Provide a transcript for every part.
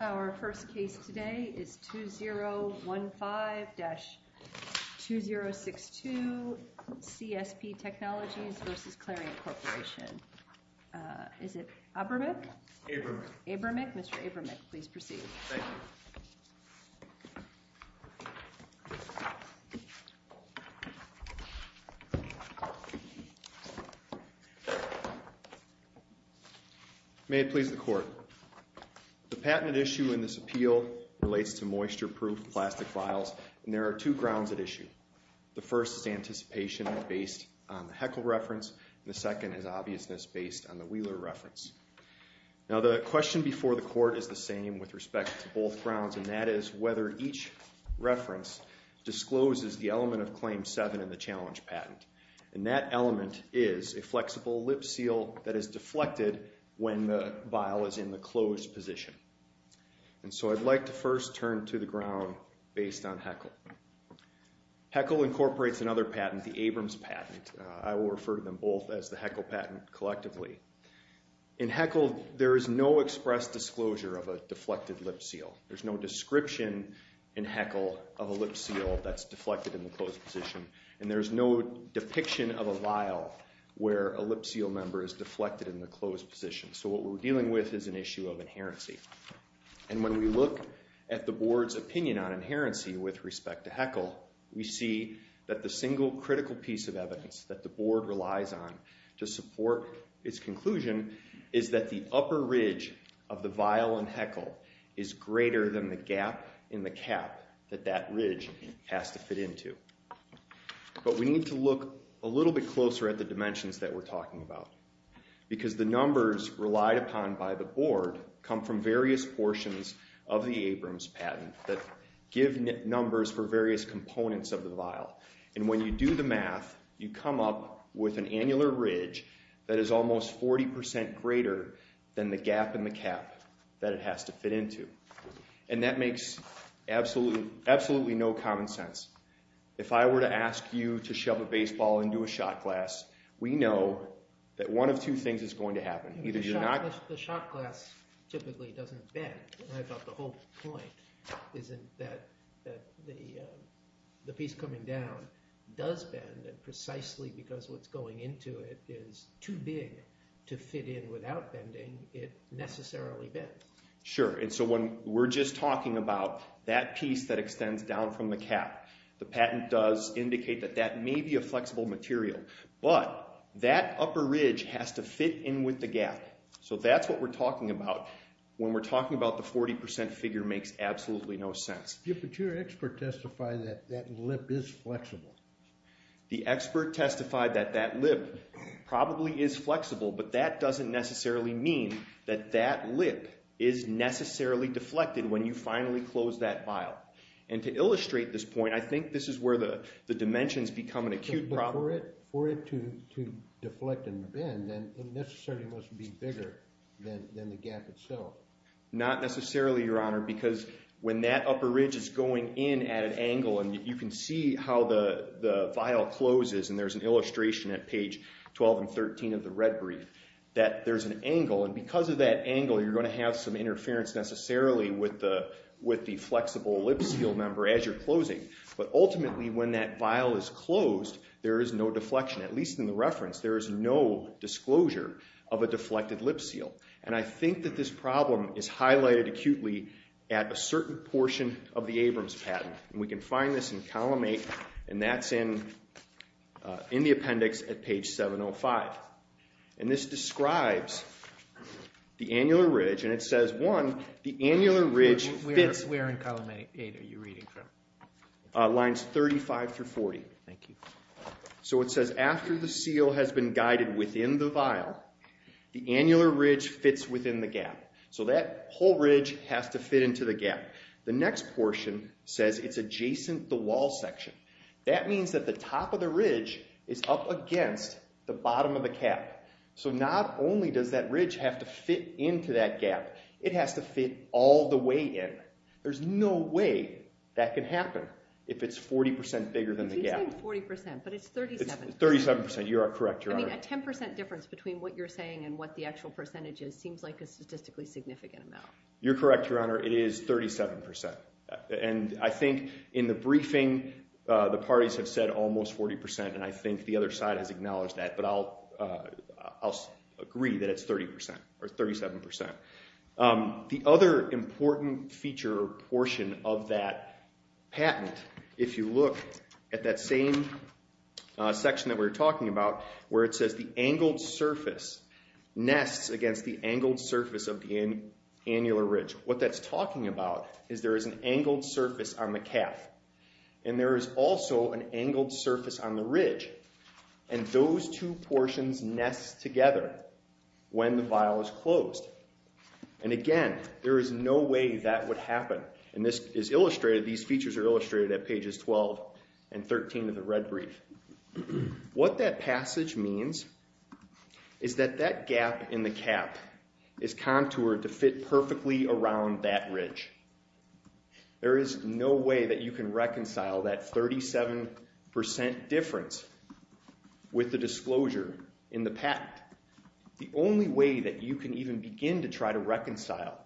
Our first case today is 2015-2062 CSP Technologies v. Clariant Corporation. Is it Abramick? Abramick. Abramick. Mr. Abramick, please proceed. Thank you. May it please the Court. The patent at issue in this appeal relates to moisture-proof plastic vials, and there are two grounds at issue. The first is anticipation based on the Heckle reference, and the second is obviousness based on the Wheeler reference. Now, the question before the Court is the same with respect to both grounds, and that is whether each reference discloses the element of Claim 7 in the challenge patent. And that element is a flexible lip seal that is deflected when the vial is in the closed position. And so I'd like to first turn to the ground based on Heckle. Heckle incorporates another patent, the Abrams patent. I will refer to them both as the Heckle patent collectively. In Heckle, there is no express disclosure of a deflected lip seal. There's no description in Heckle of a lip seal that's deflected in the closed position, and there's no depiction of a vial where a lip seal member is deflected in the closed position. So what we're dealing with is an issue of inherency. And when we look at the Board's opinion on inherency with respect to Heckle, we see that the single critical piece of evidence that the Board relies on to support its conclusion is that the upper ridge of the vial in Heckle is greater than the gap in the cap that that ridge has to fit into. But we need to look a little bit closer at the dimensions that we're talking about. Because the numbers relied upon by the Board come from various portions of the Abrams patent that give numbers for various components of the vial. And when you do the math, you come up with an annular ridge that is almost 40% greater than the gap in the cap that it has to fit into. And that makes absolutely no common sense. If I were to ask you to shove a baseball into a shot glass, we know that one of two things is going to happen. The shot glass typically doesn't bend. I thought the whole point is that the piece coming down does bend, and precisely because what's going into it is too big to fit in without bending, it necessarily bends. Sure, and so when we're just talking about that piece that extends down from the cap, the patent does indicate that that may be a flexible material. But that upper ridge has to fit in with the gap. So that's what we're talking about when we're talking about the 40% figure makes absolutely no sense. But your expert testified that that lip is flexible. The expert testified that that lip probably is flexible, but that doesn't necessarily mean that that lip is necessarily deflected when you finally close that vial. And to illustrate this point, I think this is where the dimensions become an acute problem. But for it to deflect and bend, then it necessarily must be bigger than the gap itself. Not necessarily, Your Honor, because when that upper ridge is going in at an angle, and you can see how the vial closes, and there's an illustration at page 12 and 13 of the red brief, that there's an angle. And because of that angle, you're going to have some interference necessarily with the flexible lip seal number as you're closing. But ultimately, when that vial is closed, there is no deflection. At least in the reference, there is no disclosure of a deflected lip seal. And I think that this problem is highlighted acutely at a certain portion of the Abrams patent. And we can find this in Column 8, and that's in the appendix at page 705. And this describes the annular ridge, and it says, one, the annular ridge fits… Where in Column 8 are you reading from? Lines 35 through 40. Thank you. So it says, after the seal has been guided within the vial, the annular ridge fits within the gap. So that whole ridge has to fit into the gap. The next portion says it's adjacent the wall section. That means that the top of the ridge is up against the bottom of the cap. So not only does that ridge have to fit into that gap, it has to fit all the way in. There's no way that can happen if it's 40% bigger than the gap. I'm saying 40%, but it's 37%. It's 37%. You are correct, Your Honor. I mean, a 10% difference between what you're saying and what the actual percentage is seems like a statistically significant amount. You're correct, Your Honor. It is 37%. And I think in the briefing, the parties have said almost 40%, and I think the other side has acknowledged that. But I'll agree that it's 30% or 37%. The other important feature or portion of that patent, if you look at that same section that we were talking about, where it says the angled surface nests against the angled surface of the annular ridge, what that's talking about is there is an angled surface on the cap, and there is also an angled surface on the ridge. And those two portions nest together when the vial is closed. And again, there is no way that would happen. And this is illustrated, these features are illustrated at pages 12 and 13 of the red brief. What that passage means is that that gap in the cap is contoured to fit perfectly around that ridge. There is no way that you can reconcile that 37% difference with the disclosure in the patent. In fact, the only way that you can even begin to try to reconcile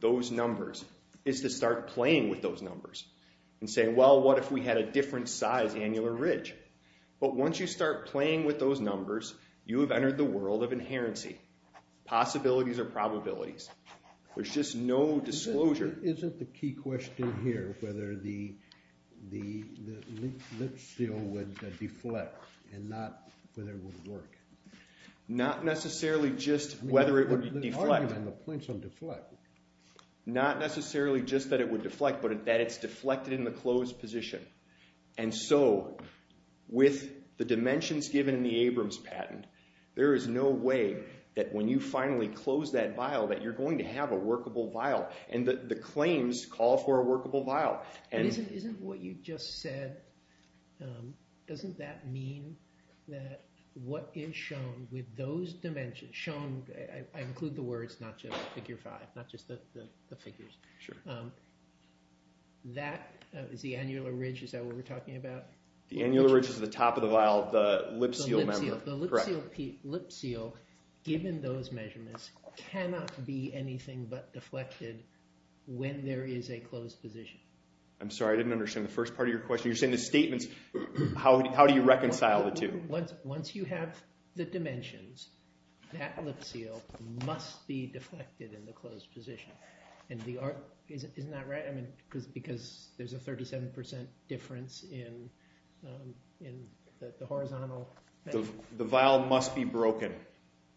those numbers is to start playing with those numbers and say, well, what if we had a different size annular ridge? But once you start playing with those numbers, you have entered the world of inherency, possibilities or probabilities. There's just no disclosure. Isn't the key question here whether the lip seal would deflect and not whether it would work? Not necessarily just whether it would deflect. The argument on the point is it would deflect. Not necessarily just that it would deflect, but that it's deflected in the closed position. And so, with the dimensions given in the Abrams patent, there is no way that when you finally close that vial, that you're going to have a workable vial. And the claims call for a workable vial. Isn't what you just said, doesn't that mean that what is shown with those dimensions, shown, I include the words, not just figure five, not just the figures. That is the annular ridge, is that what we're talking about? The annular ridge is the top of the vial, the lip seal. The lip seal, given those measurements, cannot be anything but deflected when there is a closed position. I'm sorry, I didn't understand the first part of your question. You're saying the statements, how do you reconcile the two? Once you have the dimensions, that lip seal must be deflected in the closed position. Isn't that right? Because there's a 37% difference in the horizontal... The vial must be broken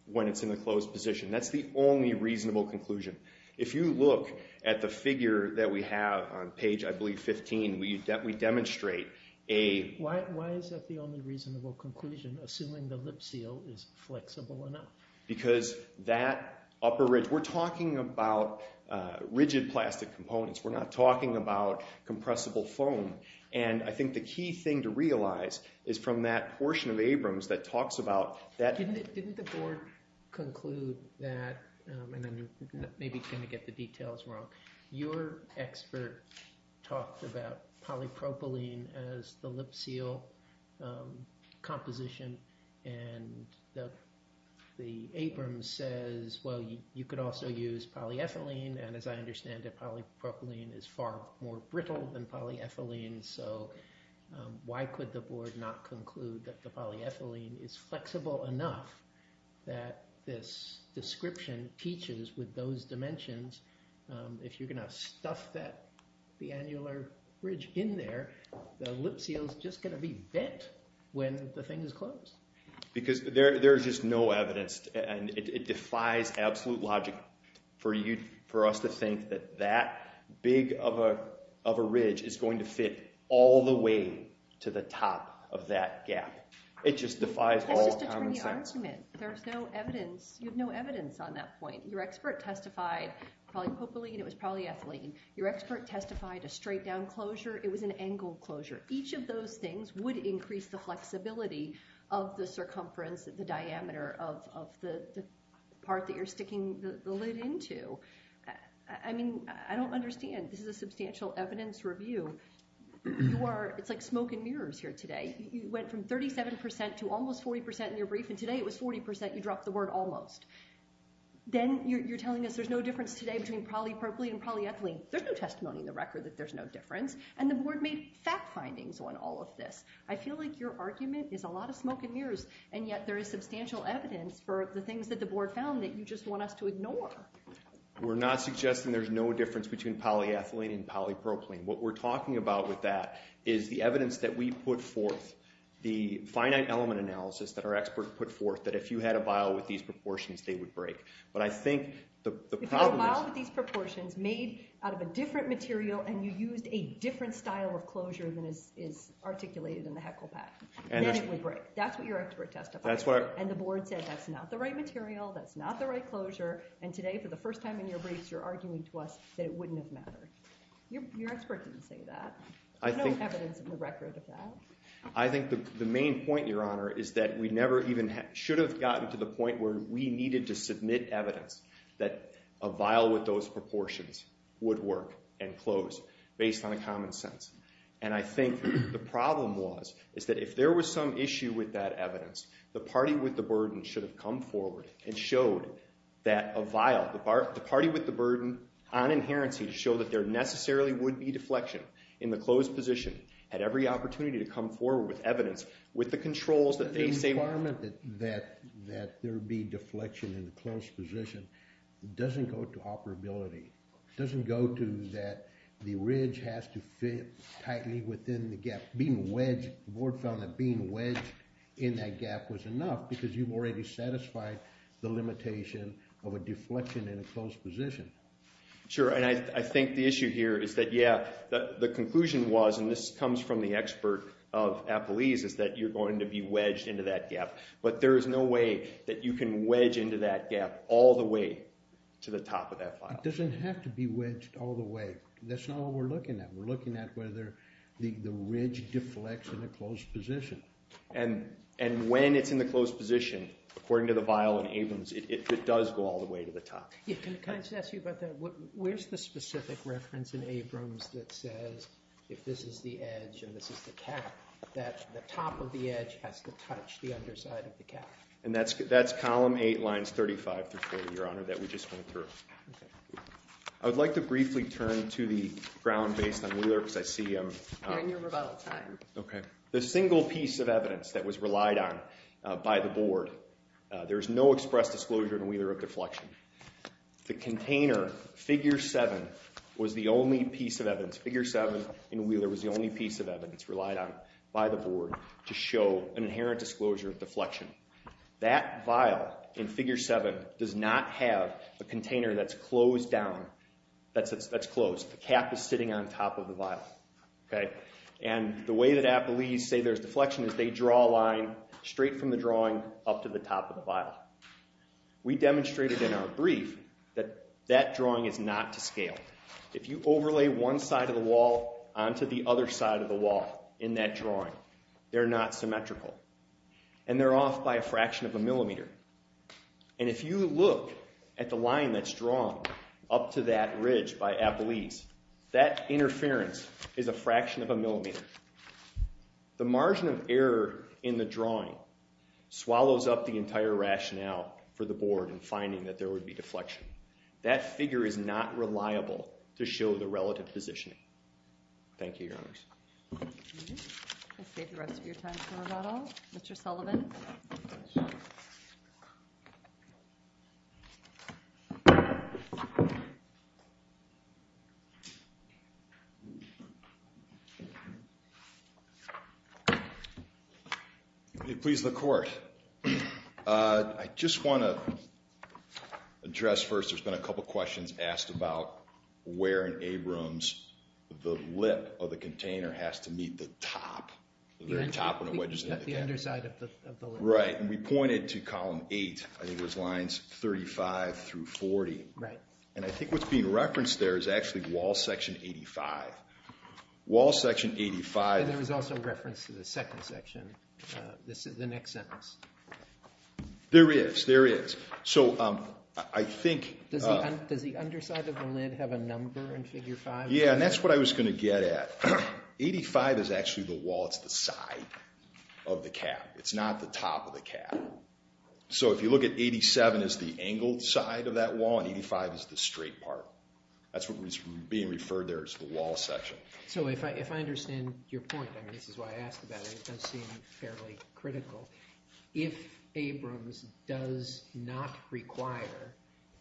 when it's in the closed position. That's the only reasonable conclusion. If you look at the figure that we have on page, I believe, 15, we demonstrate a... Why is that the only reasonable conclusion, assuming the lip seal is flexible enough? Because that upper ridge, we're talking about rigid plastic components. We're not talking about compressible foam. I think the key thing to realize is from that portion of Abrams that talks about that... Didn't the board conclude that, and then maybe kind of get the details wrong, your expert talked about polypropylene as the lip seal composition, and the Abrams says, well, you could also use polyethylene, and as I understand it, polypropylene is far more brittle than polyethylene, so why could the board not conclude that the polyethylene is flexible enough that this description teaches with those dimensions, if you're going to stuff the annular ridge in there, the lip seal's just going to be bent when the thing is closed. Because there's just no evidence, and it defies absolute logic for us to think that that big of a ridge is going to fit all the way to the top of that gap. It just defies all common sense. That's just attorney argument. There's no evidence. You have no evidence on that point. Your expert testified polypropylene, it was polyethylene. Your expert testified a straight down closure, it was an angled closure. Each of those things would increase the flexibility of the circumference, the diameter of the part that you're sticking the lid into. I mean, I don't understand. This is a substantial evidence review. It's like smoke and mirrors here today. You went from 37% to almost 40% in your brief, and today it was 40%. You dropped the word almost. Then you're telling us there's no difference today between polypropylene and polyethylene. There's no testimony in the record that there's no difference, and the board made fact findings on all of this. I feel like your argument is a lot of smoke and mirrors, and yet there is substantial evidence for the things that the board found that you just want us to ignore. We're not suggesting there's no difference between polyethylene and polypropylene. What we're talking about with that is the evidence that we put forth, the finite element analysis that our expert put forth, that if you had a vial with these proportions, they would break. If you had a vial with these proportions made out of a different material and you used a different style of closure than is articulated in the HECL PAC, then it would break. That's what your expert testified. And the board said that's not the right material, that's not the right closure, and today, for the first time in your briefs, you're arguing to us that it wouldn't have mattered. Your expert didn't say that. There's no evidence in the record of that. I think the main point, Your Honor, is that we never even should have gotten to the point where we needed to submit evidence that a vial with those proportions would work and close based on a common sense. And I think the problem was is that if there was some issue with that evidence, the party with the burden should have come forward and showed that a vial, the party with the burden on inherency to show that there necessarily would be deflection in the closed position, had every opportunity to come forward with evidence, with the controls that they say... The requirement that there be deflection in the closed position doesn't go to operability. It doesn't go to that the ridge has to fit tightly within the gap. Being wedged, the board found that being wedged in that gap was enough because you've already satisfied the limitation of a deflection in a closed position. Sure, and I think the issue here is that, yeah, the conclusion was, and this comes from the expert of Appalese, is that you're going to be wedged into that gap. But there is no way that you can wedge into that gap all the way to the top of that vial. It doesn't have to be wedged all the way. That's not what we're looking at. We're looking at whether the ridge deflects in the closed position. And when it's in the closed position, according to the vial in Abrams, it does go all the way to the top. Yeah, can I just ask you about that? Where's the specific reference in Abrams that says if this is the edge and this is the cap, that the top of the edge has to touch the underside of the cap? And that's column 8, lines 35 through 40, Your Honor, that we just went through. Okay. I would like to briefly turn to the ground based on Wheeler because I see I'm... You're in your rebuttal time. Okay. The single piece of evidence that was relied on by the board, there's no express disclosure in Wheeler of deflection. The container, figure 7, was the only piece of evidence. Figure 7 in Wheeler was the only piece of evidence relied on by the board to show an inherent disclosure of deflection. That vial in figure 7 does not have a container that's closed down, that's closed. The cap is sitting on top of the vial. Okay. And the way that appellees say there's deflection is they draw a line straight from the drawing up to the top of the vial. We demonstrated in our brief that that drawing is not to scale. If you overlay one side of the wall onto the other side of the wall in that drawing, they're not symmetrical. And they're off by a fraction of a millimeter. And if you look at the line that's drawn up to that ridge by appellees, that interference is a fraction of a millimeter. The margin of error in the drawing swallows up the entire rationale for the board in finding that there would be deflection. That figure is not reliable to show the relative positioning. Thank you, Your Honors. We'll save the rest of your time for about all. Mr. Sullivan. Please, the Court. I just want to address first, there's been a couple questions asked about where in Abrams the lip of the container has to meet the top, the very top when it wedges into the cabinet. The underside of the lid. Right. And we pointed to column 8. I think it was lines 35 through 40. Right. And I think what's being referenced there is actually wall section 85. Wall section 85. And there was also reference to the second section, the next sentence. There is, there is. So I think. Does the underside of the lid have a number in figure 5? Yeah, and that's what I was going to get at. 85 is actually the wall, it's the side of the cab. It's not the top of the cab. So if you look at 87 as the angled side of that wall and 85 as the straight part, that's what was being referred there as the wall section. So if I understand your point, and this is why I asked about it, it does seem fairly critical. If Abrams does not require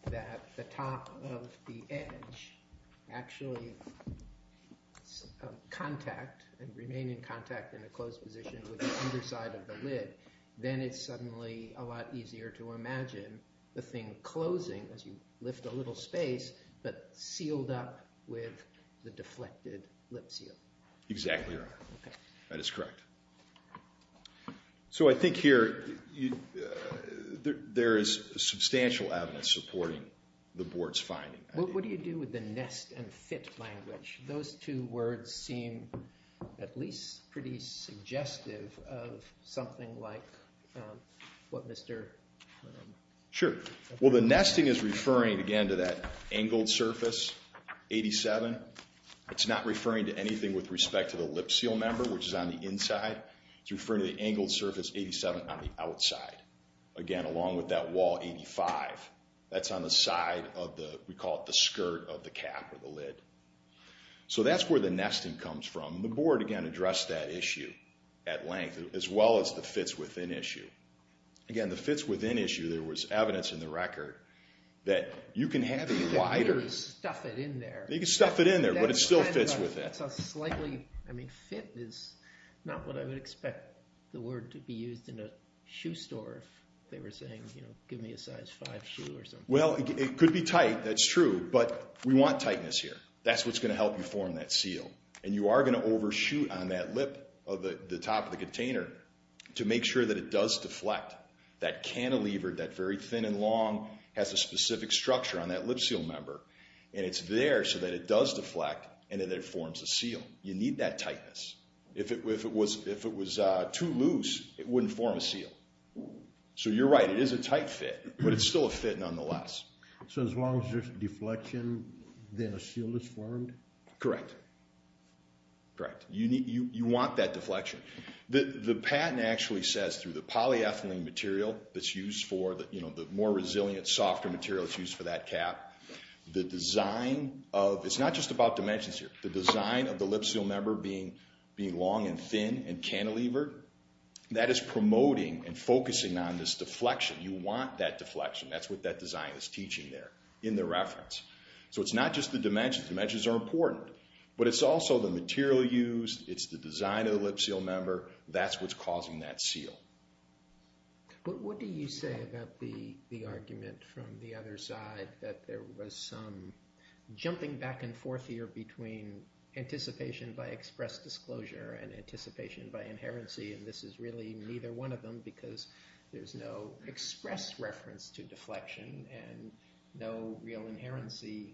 that the top of the edge actually contact and remain in contact in a closed position with the underside of the lid, then it's suddenly a lot easier to imagine the thing closing as you lift a little space, but sealed up with the deflected lip seal. Exactly right. That is correct. So I think here there is substantial evidence supporting the board's finding. What do you do with the nest and fit language? Those two words seem at least pretty suggestive of something like what Mr. Sure. Well, the nesting is referring, again, to that angled surface, 87. It's not referring to anything with respect to the lip seal member, which is on the inside. It's referring to the angled surface, 87, on the outside, again, along with that wall, 85. That's on the side of the, we call it the skirt of the cab or the lid. So that's where the nesting comes from. The board, again, addressed that issue at length as well as the fits within issue. Again, the fits within issue, there was evidence in the record that you can have it wider. You can stuff it in there. You can stuff it in there, but it still fits within. That's a slightly, I mean, fit is not what I would expect the word to be used in a shoe store if they were saying, you know, give me a size 5 shoe or something. Well, it could be tight. That's true. But we want tightness here. That's what's going to help you form that seal. And you are going to overshoot on that lip of the top of the container to make sure that it does deflect. That cantilever, that very thin and long has a specific structure on that lip seal member, and it's there so that it does deflect and that it forms a seal. You need that tightness. If it was too loose, it wouldn't form a seal. So you're right. It is a tight fit, but it's still a fit nonetheless. So as long as there's deflection, then a seal is formed? Correct. Correct. You want that deflection. The patent actually says through the polyethylene material that's used for, you know, the more resilient, softer material that's used for that cap, the design of the lip seal member being long and thin and cantilevered, that is promoting and focusing on this deflection. You want that deflection. That's what that design is teaching there in the reference. So it's not just the dimensions. Dimensions are important. But it's also the material used. It's the design of the lip seal member. That's what's causing that seal. What do you say about the argument from the other side that there was some jumping back and forth here between anticipation by express disclosure and anticipation by inherency, and this is really neither one of them because there's no express reference to deflection and no real inherency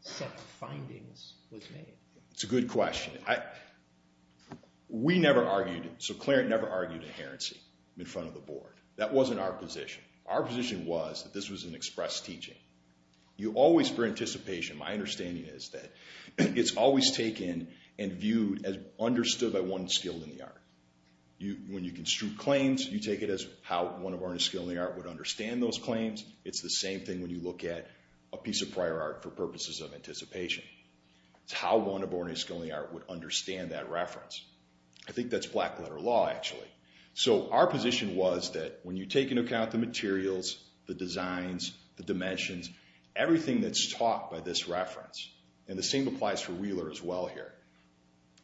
set of findings was made? It's a good question. We never argued, so Clarence never argued inherency in front of the board. That wasn't our position. Our position was that this was an express teaching. You always, for anticipation, my understanding is that it's always taken and viewed as understood by one skilled in the art. When you construe claims, you take it as how one of our skilled in the art would understand those claims. It's the same thing when you look at a piece of prior art for purposes of anticipation. It's how one of ordinary skilled in the art would understand that reference. I think that's black letter law actually. So our position was that when you take into account the materials, the designs, the dimensions, everything that's taught by this reference, and the same applies for Wheeler as well here,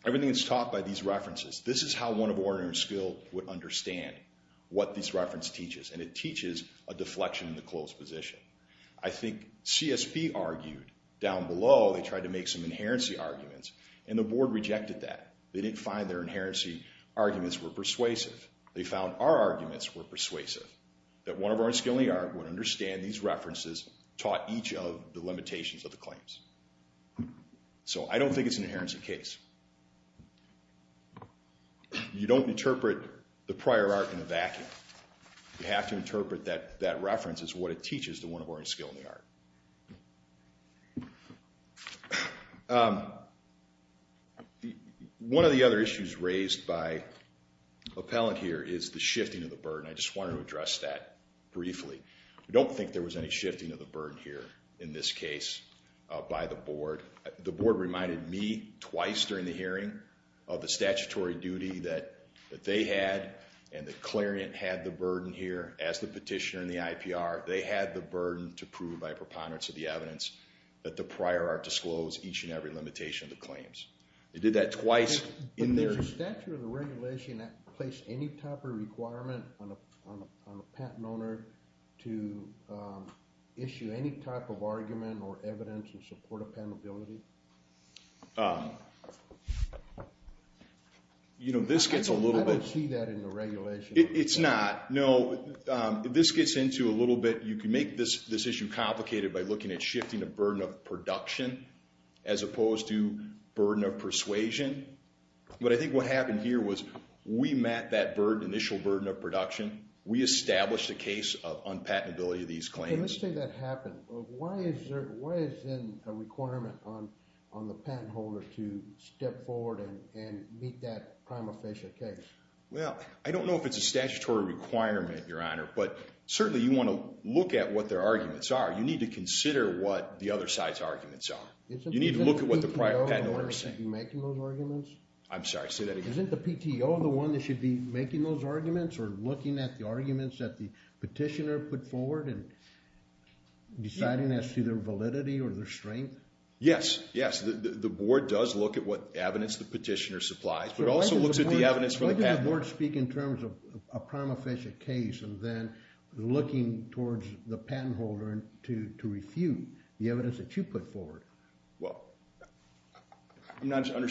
everything that's taught by these references, this is how one of ordinary skilled would understand what this reference teaches, and it teaches a deflection in the closed position. I think CSB argued down below they tried to make some inherency arguments, and the board rejected that. They didn't find their inherency arguments were persuasive. They found our arguments were persuasive, that one of our skilled in the art would understand these references taught each of the limitations of the claims. So I don't think it's an inherency case. You don't interpret the prior art in a vacuum. You have to interpret that reference as what it teaches to one of ordinary skilled in the art. One of the other issues raised by appellant here is the shifting of the burden. I just wanted to address that briefly. I don't think there was any shifting of the burden here in this case by the board. The board reminded me twice during the hearing of the statutory duty that they had, and the clarient had the burden here as the petitioner in the IPR. They had the burden to prove by preponderance of the evidence that the prior art disclosed each and every limitation of the claims. They did that twice in their- Can that place any type of requirement on a patent owner to issue any type of argument or evidence in support of patentability? You know, this gets a little bit- I don't see that in the regulation. It's not. No, this gets into a little bit. You can make this issue complicated by looking at shifting the burden of production as opposed to burden of persuasion. But I think what happened here was we met that initial burden of production. We established a case of unpatentability of these claims. Let's say that happened. Why is there a requirement on the patent holder to step forward and meet that prima facie case? Well, I don't know if it's a statutory requirement, Your Honor, but certainly you want to look at what their arguments are. You need to consider what the other side's arguments are. You need to look at what the patent owner is saying. I'm sorry, say that again. Isn't the PTO the one that should be making those arguments or looking at the arguments that the petitioner put forward and deciding as to their validity or their strength? Yes, yes. The board does look at what evidence the petitioner supplies, but it also looks at the evidence from the patent holder. Why doesn't the board speak in terms of a prima facie case and then looking towards the patent holder to refute the evidence that you put forward? Well, I'm not sure I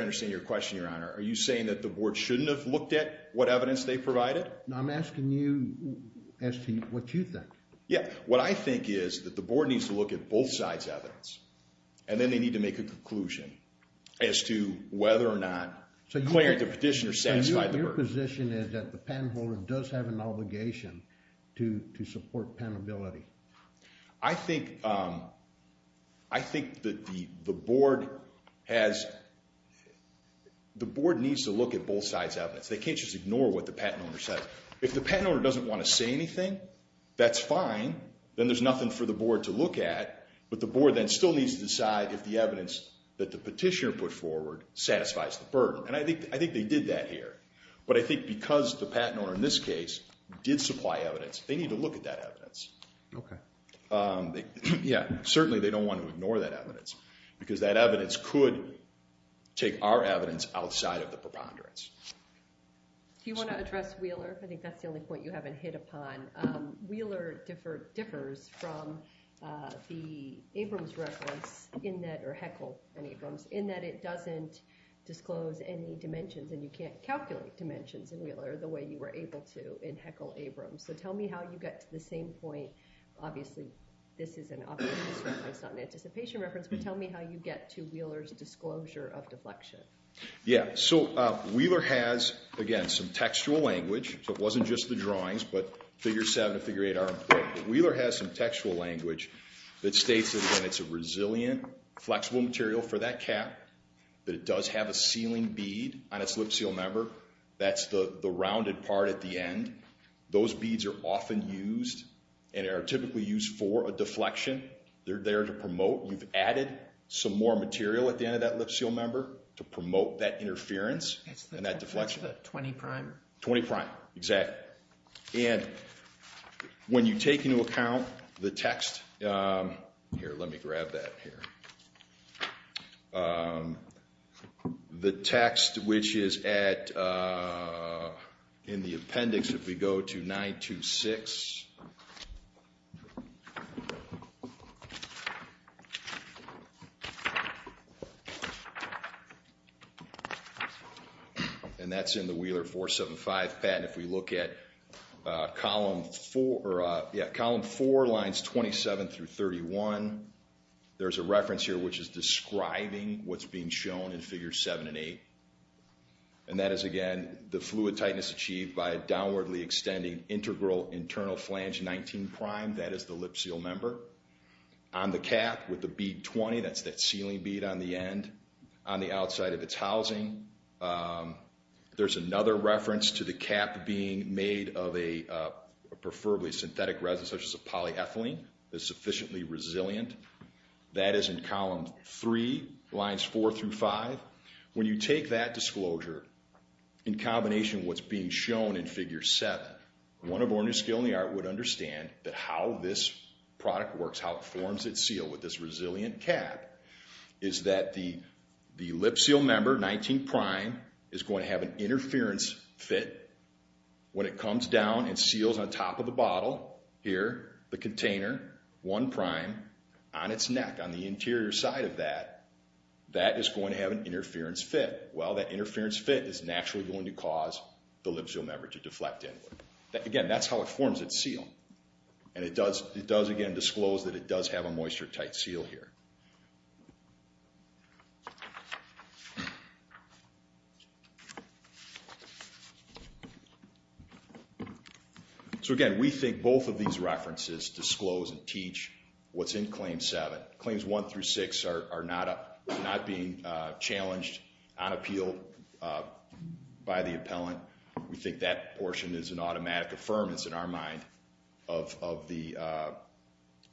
understand your question, Your Honor. Are you saying that the board shouldn't have looked at what evidence they provided? No, I'm asking you as to what you think. Yeah, what I think is that the board needs to look at both sides' evidence, and then they need to make a conclusion as to whether or not the petitioner satisfied the burden. Your position is that the patent holder does have an obligation to support patentability. I think that the board needs to look at both sides' evidence. They can't just ignore what the patent owner says. If the patent owner doesn't want to say anything, that's fine. Then there's nothing for the board to look at, but the board then still needs to decide if the evidence that the petitioner put forward satisfies the burden. And I think they did that here. But I think because the patent owner in this case did supply evidence, they need to look at that evidence. Okay. Yeah, certainly they don't want to ignore that evidence because that evidence could take our evidence outside of the preponderance. Do you want to address Wheeler? I think that's the only point you haven't hit upon. Wheeler differs from the Abrams reference in that—or Heckle and Abrams—in that it doesn't disclose any dimensions, and you can't calculate dimensions in Wheeler the way you were able to in Heckle-Abrams. So tell me how you get to the same point. Obviously, this is an obvious reference, not an anticipation reference, but tell me how you get to Wheeler's disclosure of deflection. Yeah. So Wheeler has, again, some textual language. So it wasn't just the drawings, but Figure 7 and Figure 8 are important. Wheeler has some textual language that states that, again, it's a resilient, flexible material for that cap, that it does have a sealing bead on its lip seal member. That's the rounded part at the end. Those beads are often used and are typically used for a deflection. They're there to promote. You've added some more material at the end of that lip seal member to promote that interference and that deflection. It's the 20 prime. 20 prime. Exactly. And when you take into account the text—here, let me grab that here—the text which is in the appendix, if we go to 926, and that's in the Wheeler 475 patent. If we look at Column 4, lines 27 through 31, there's a reference here which is describing what's being shown in Figure 7 and 8. And that is, again, the fluid tightness achieved by a downwardly extending integral internal flange 19 prime. That is the lip seal member. On the cap with the bead 20, that's that sealing bead on the end, on the outside of its housing. There's another reference to the cap being made of a preferably synthetic resin such as a polyethylene that's sufficiently resilient. That is in Column 3, lines 4 through 5. When you take that disclosure in combination with what's being shown in Figure 7, one of Orange's skill in the art would understand that how this product works, how it forms its seal with this resilient cap, is that the lip seal member, 19 prime, is going to have an interference fit. When it comes down and seals on top of the bottle, here, the container, 1 prime, on its neck, on the interior side of that, that is going to have an interference fit. Well, that interference fit is naturally going to cause the lip seal member to deflect inward. Again, that's how it forms its seal. And it does, again, disclose that it does have a moisture-tight seal here. So, again, we think both of these references disclose and teach what's in Claim 7. Claims 1 through 6 are not being challenged on appeal by the appellant. We think that portion is an automatic affirmance, in our mind, of the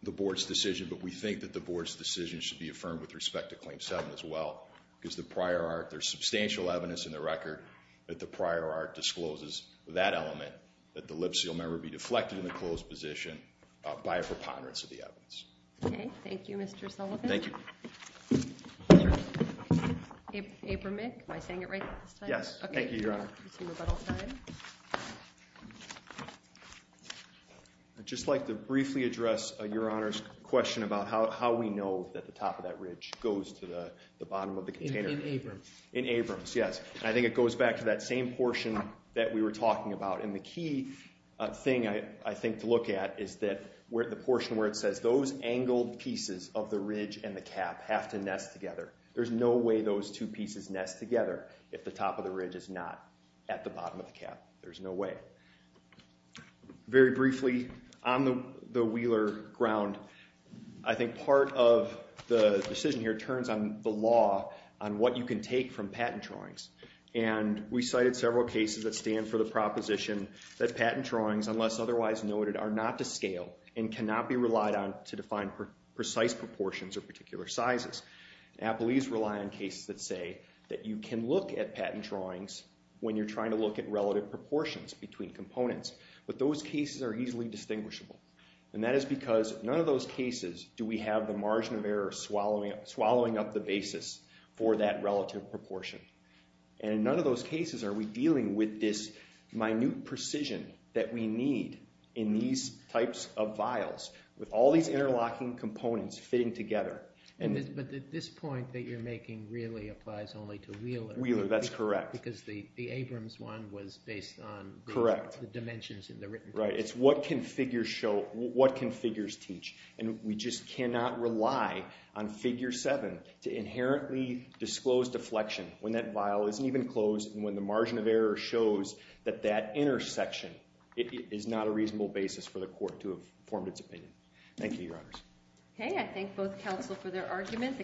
board's decision. But we think that the board's decision should be affirmed with respect to Claim 7 as well. Because the prior art, there's substantial evidence in the record that the prior art discloses that element, that the lip seal member be deflected in the closed position by a preponderance of the evidence. Okay, thank you, Mr. Sullivan. Thank you. Abramick, am I saying it right this time? Yes, thank you, Your Honor. I assume about all time. I'd just like to briefly address Your Honor's question about how we know that the top of that ridge goes to the bottom of the container. In Abrams. In Abrams, yes. And I think it goes back to that same portion that we were talking about. And the key thing, I think, to look at is that the portion where it says those angled pieces of the ridge and the cap have to nest together. There's no way those two pieces nest together if the top of the ridge is not at the bottom of the cap. There's no way. Very briefly, on the Wheeler ground, I think part of the decision here turns on the law on what you can take from patent drawings. And we cited several cases that stand for the proposition that patent drawings, unless otherwise noted, are not to scale and cannot be relied on to define precise proportions or particular sizes. Appellees rely on cases that say that you can look at patent drawings when you're trying to look at relative proportions between components. But those cases are easily distinguishable. And that is because none of those cases do we have the margin of error swallowing up the basis for that relative proportion. And in none of those cases are we dealing with this minute precision that we need in these types of vials with all these interlocking components fitting together. But this point that you're making really applies only to Wheeler. Wheeler, that's correct. Because the Abrams one was based on the dimensions in the written case. Correct. It's what can figures show, what can figures teach. And we just cannot rely on Figure 7 to inherently disclose deflection when that vial isn't even closed and when the margin of error shows that that intersection is not a reasonable basis for the court to have formed its opinion. Thank you, Your Honors. Okay. I thank both counsel for their argument.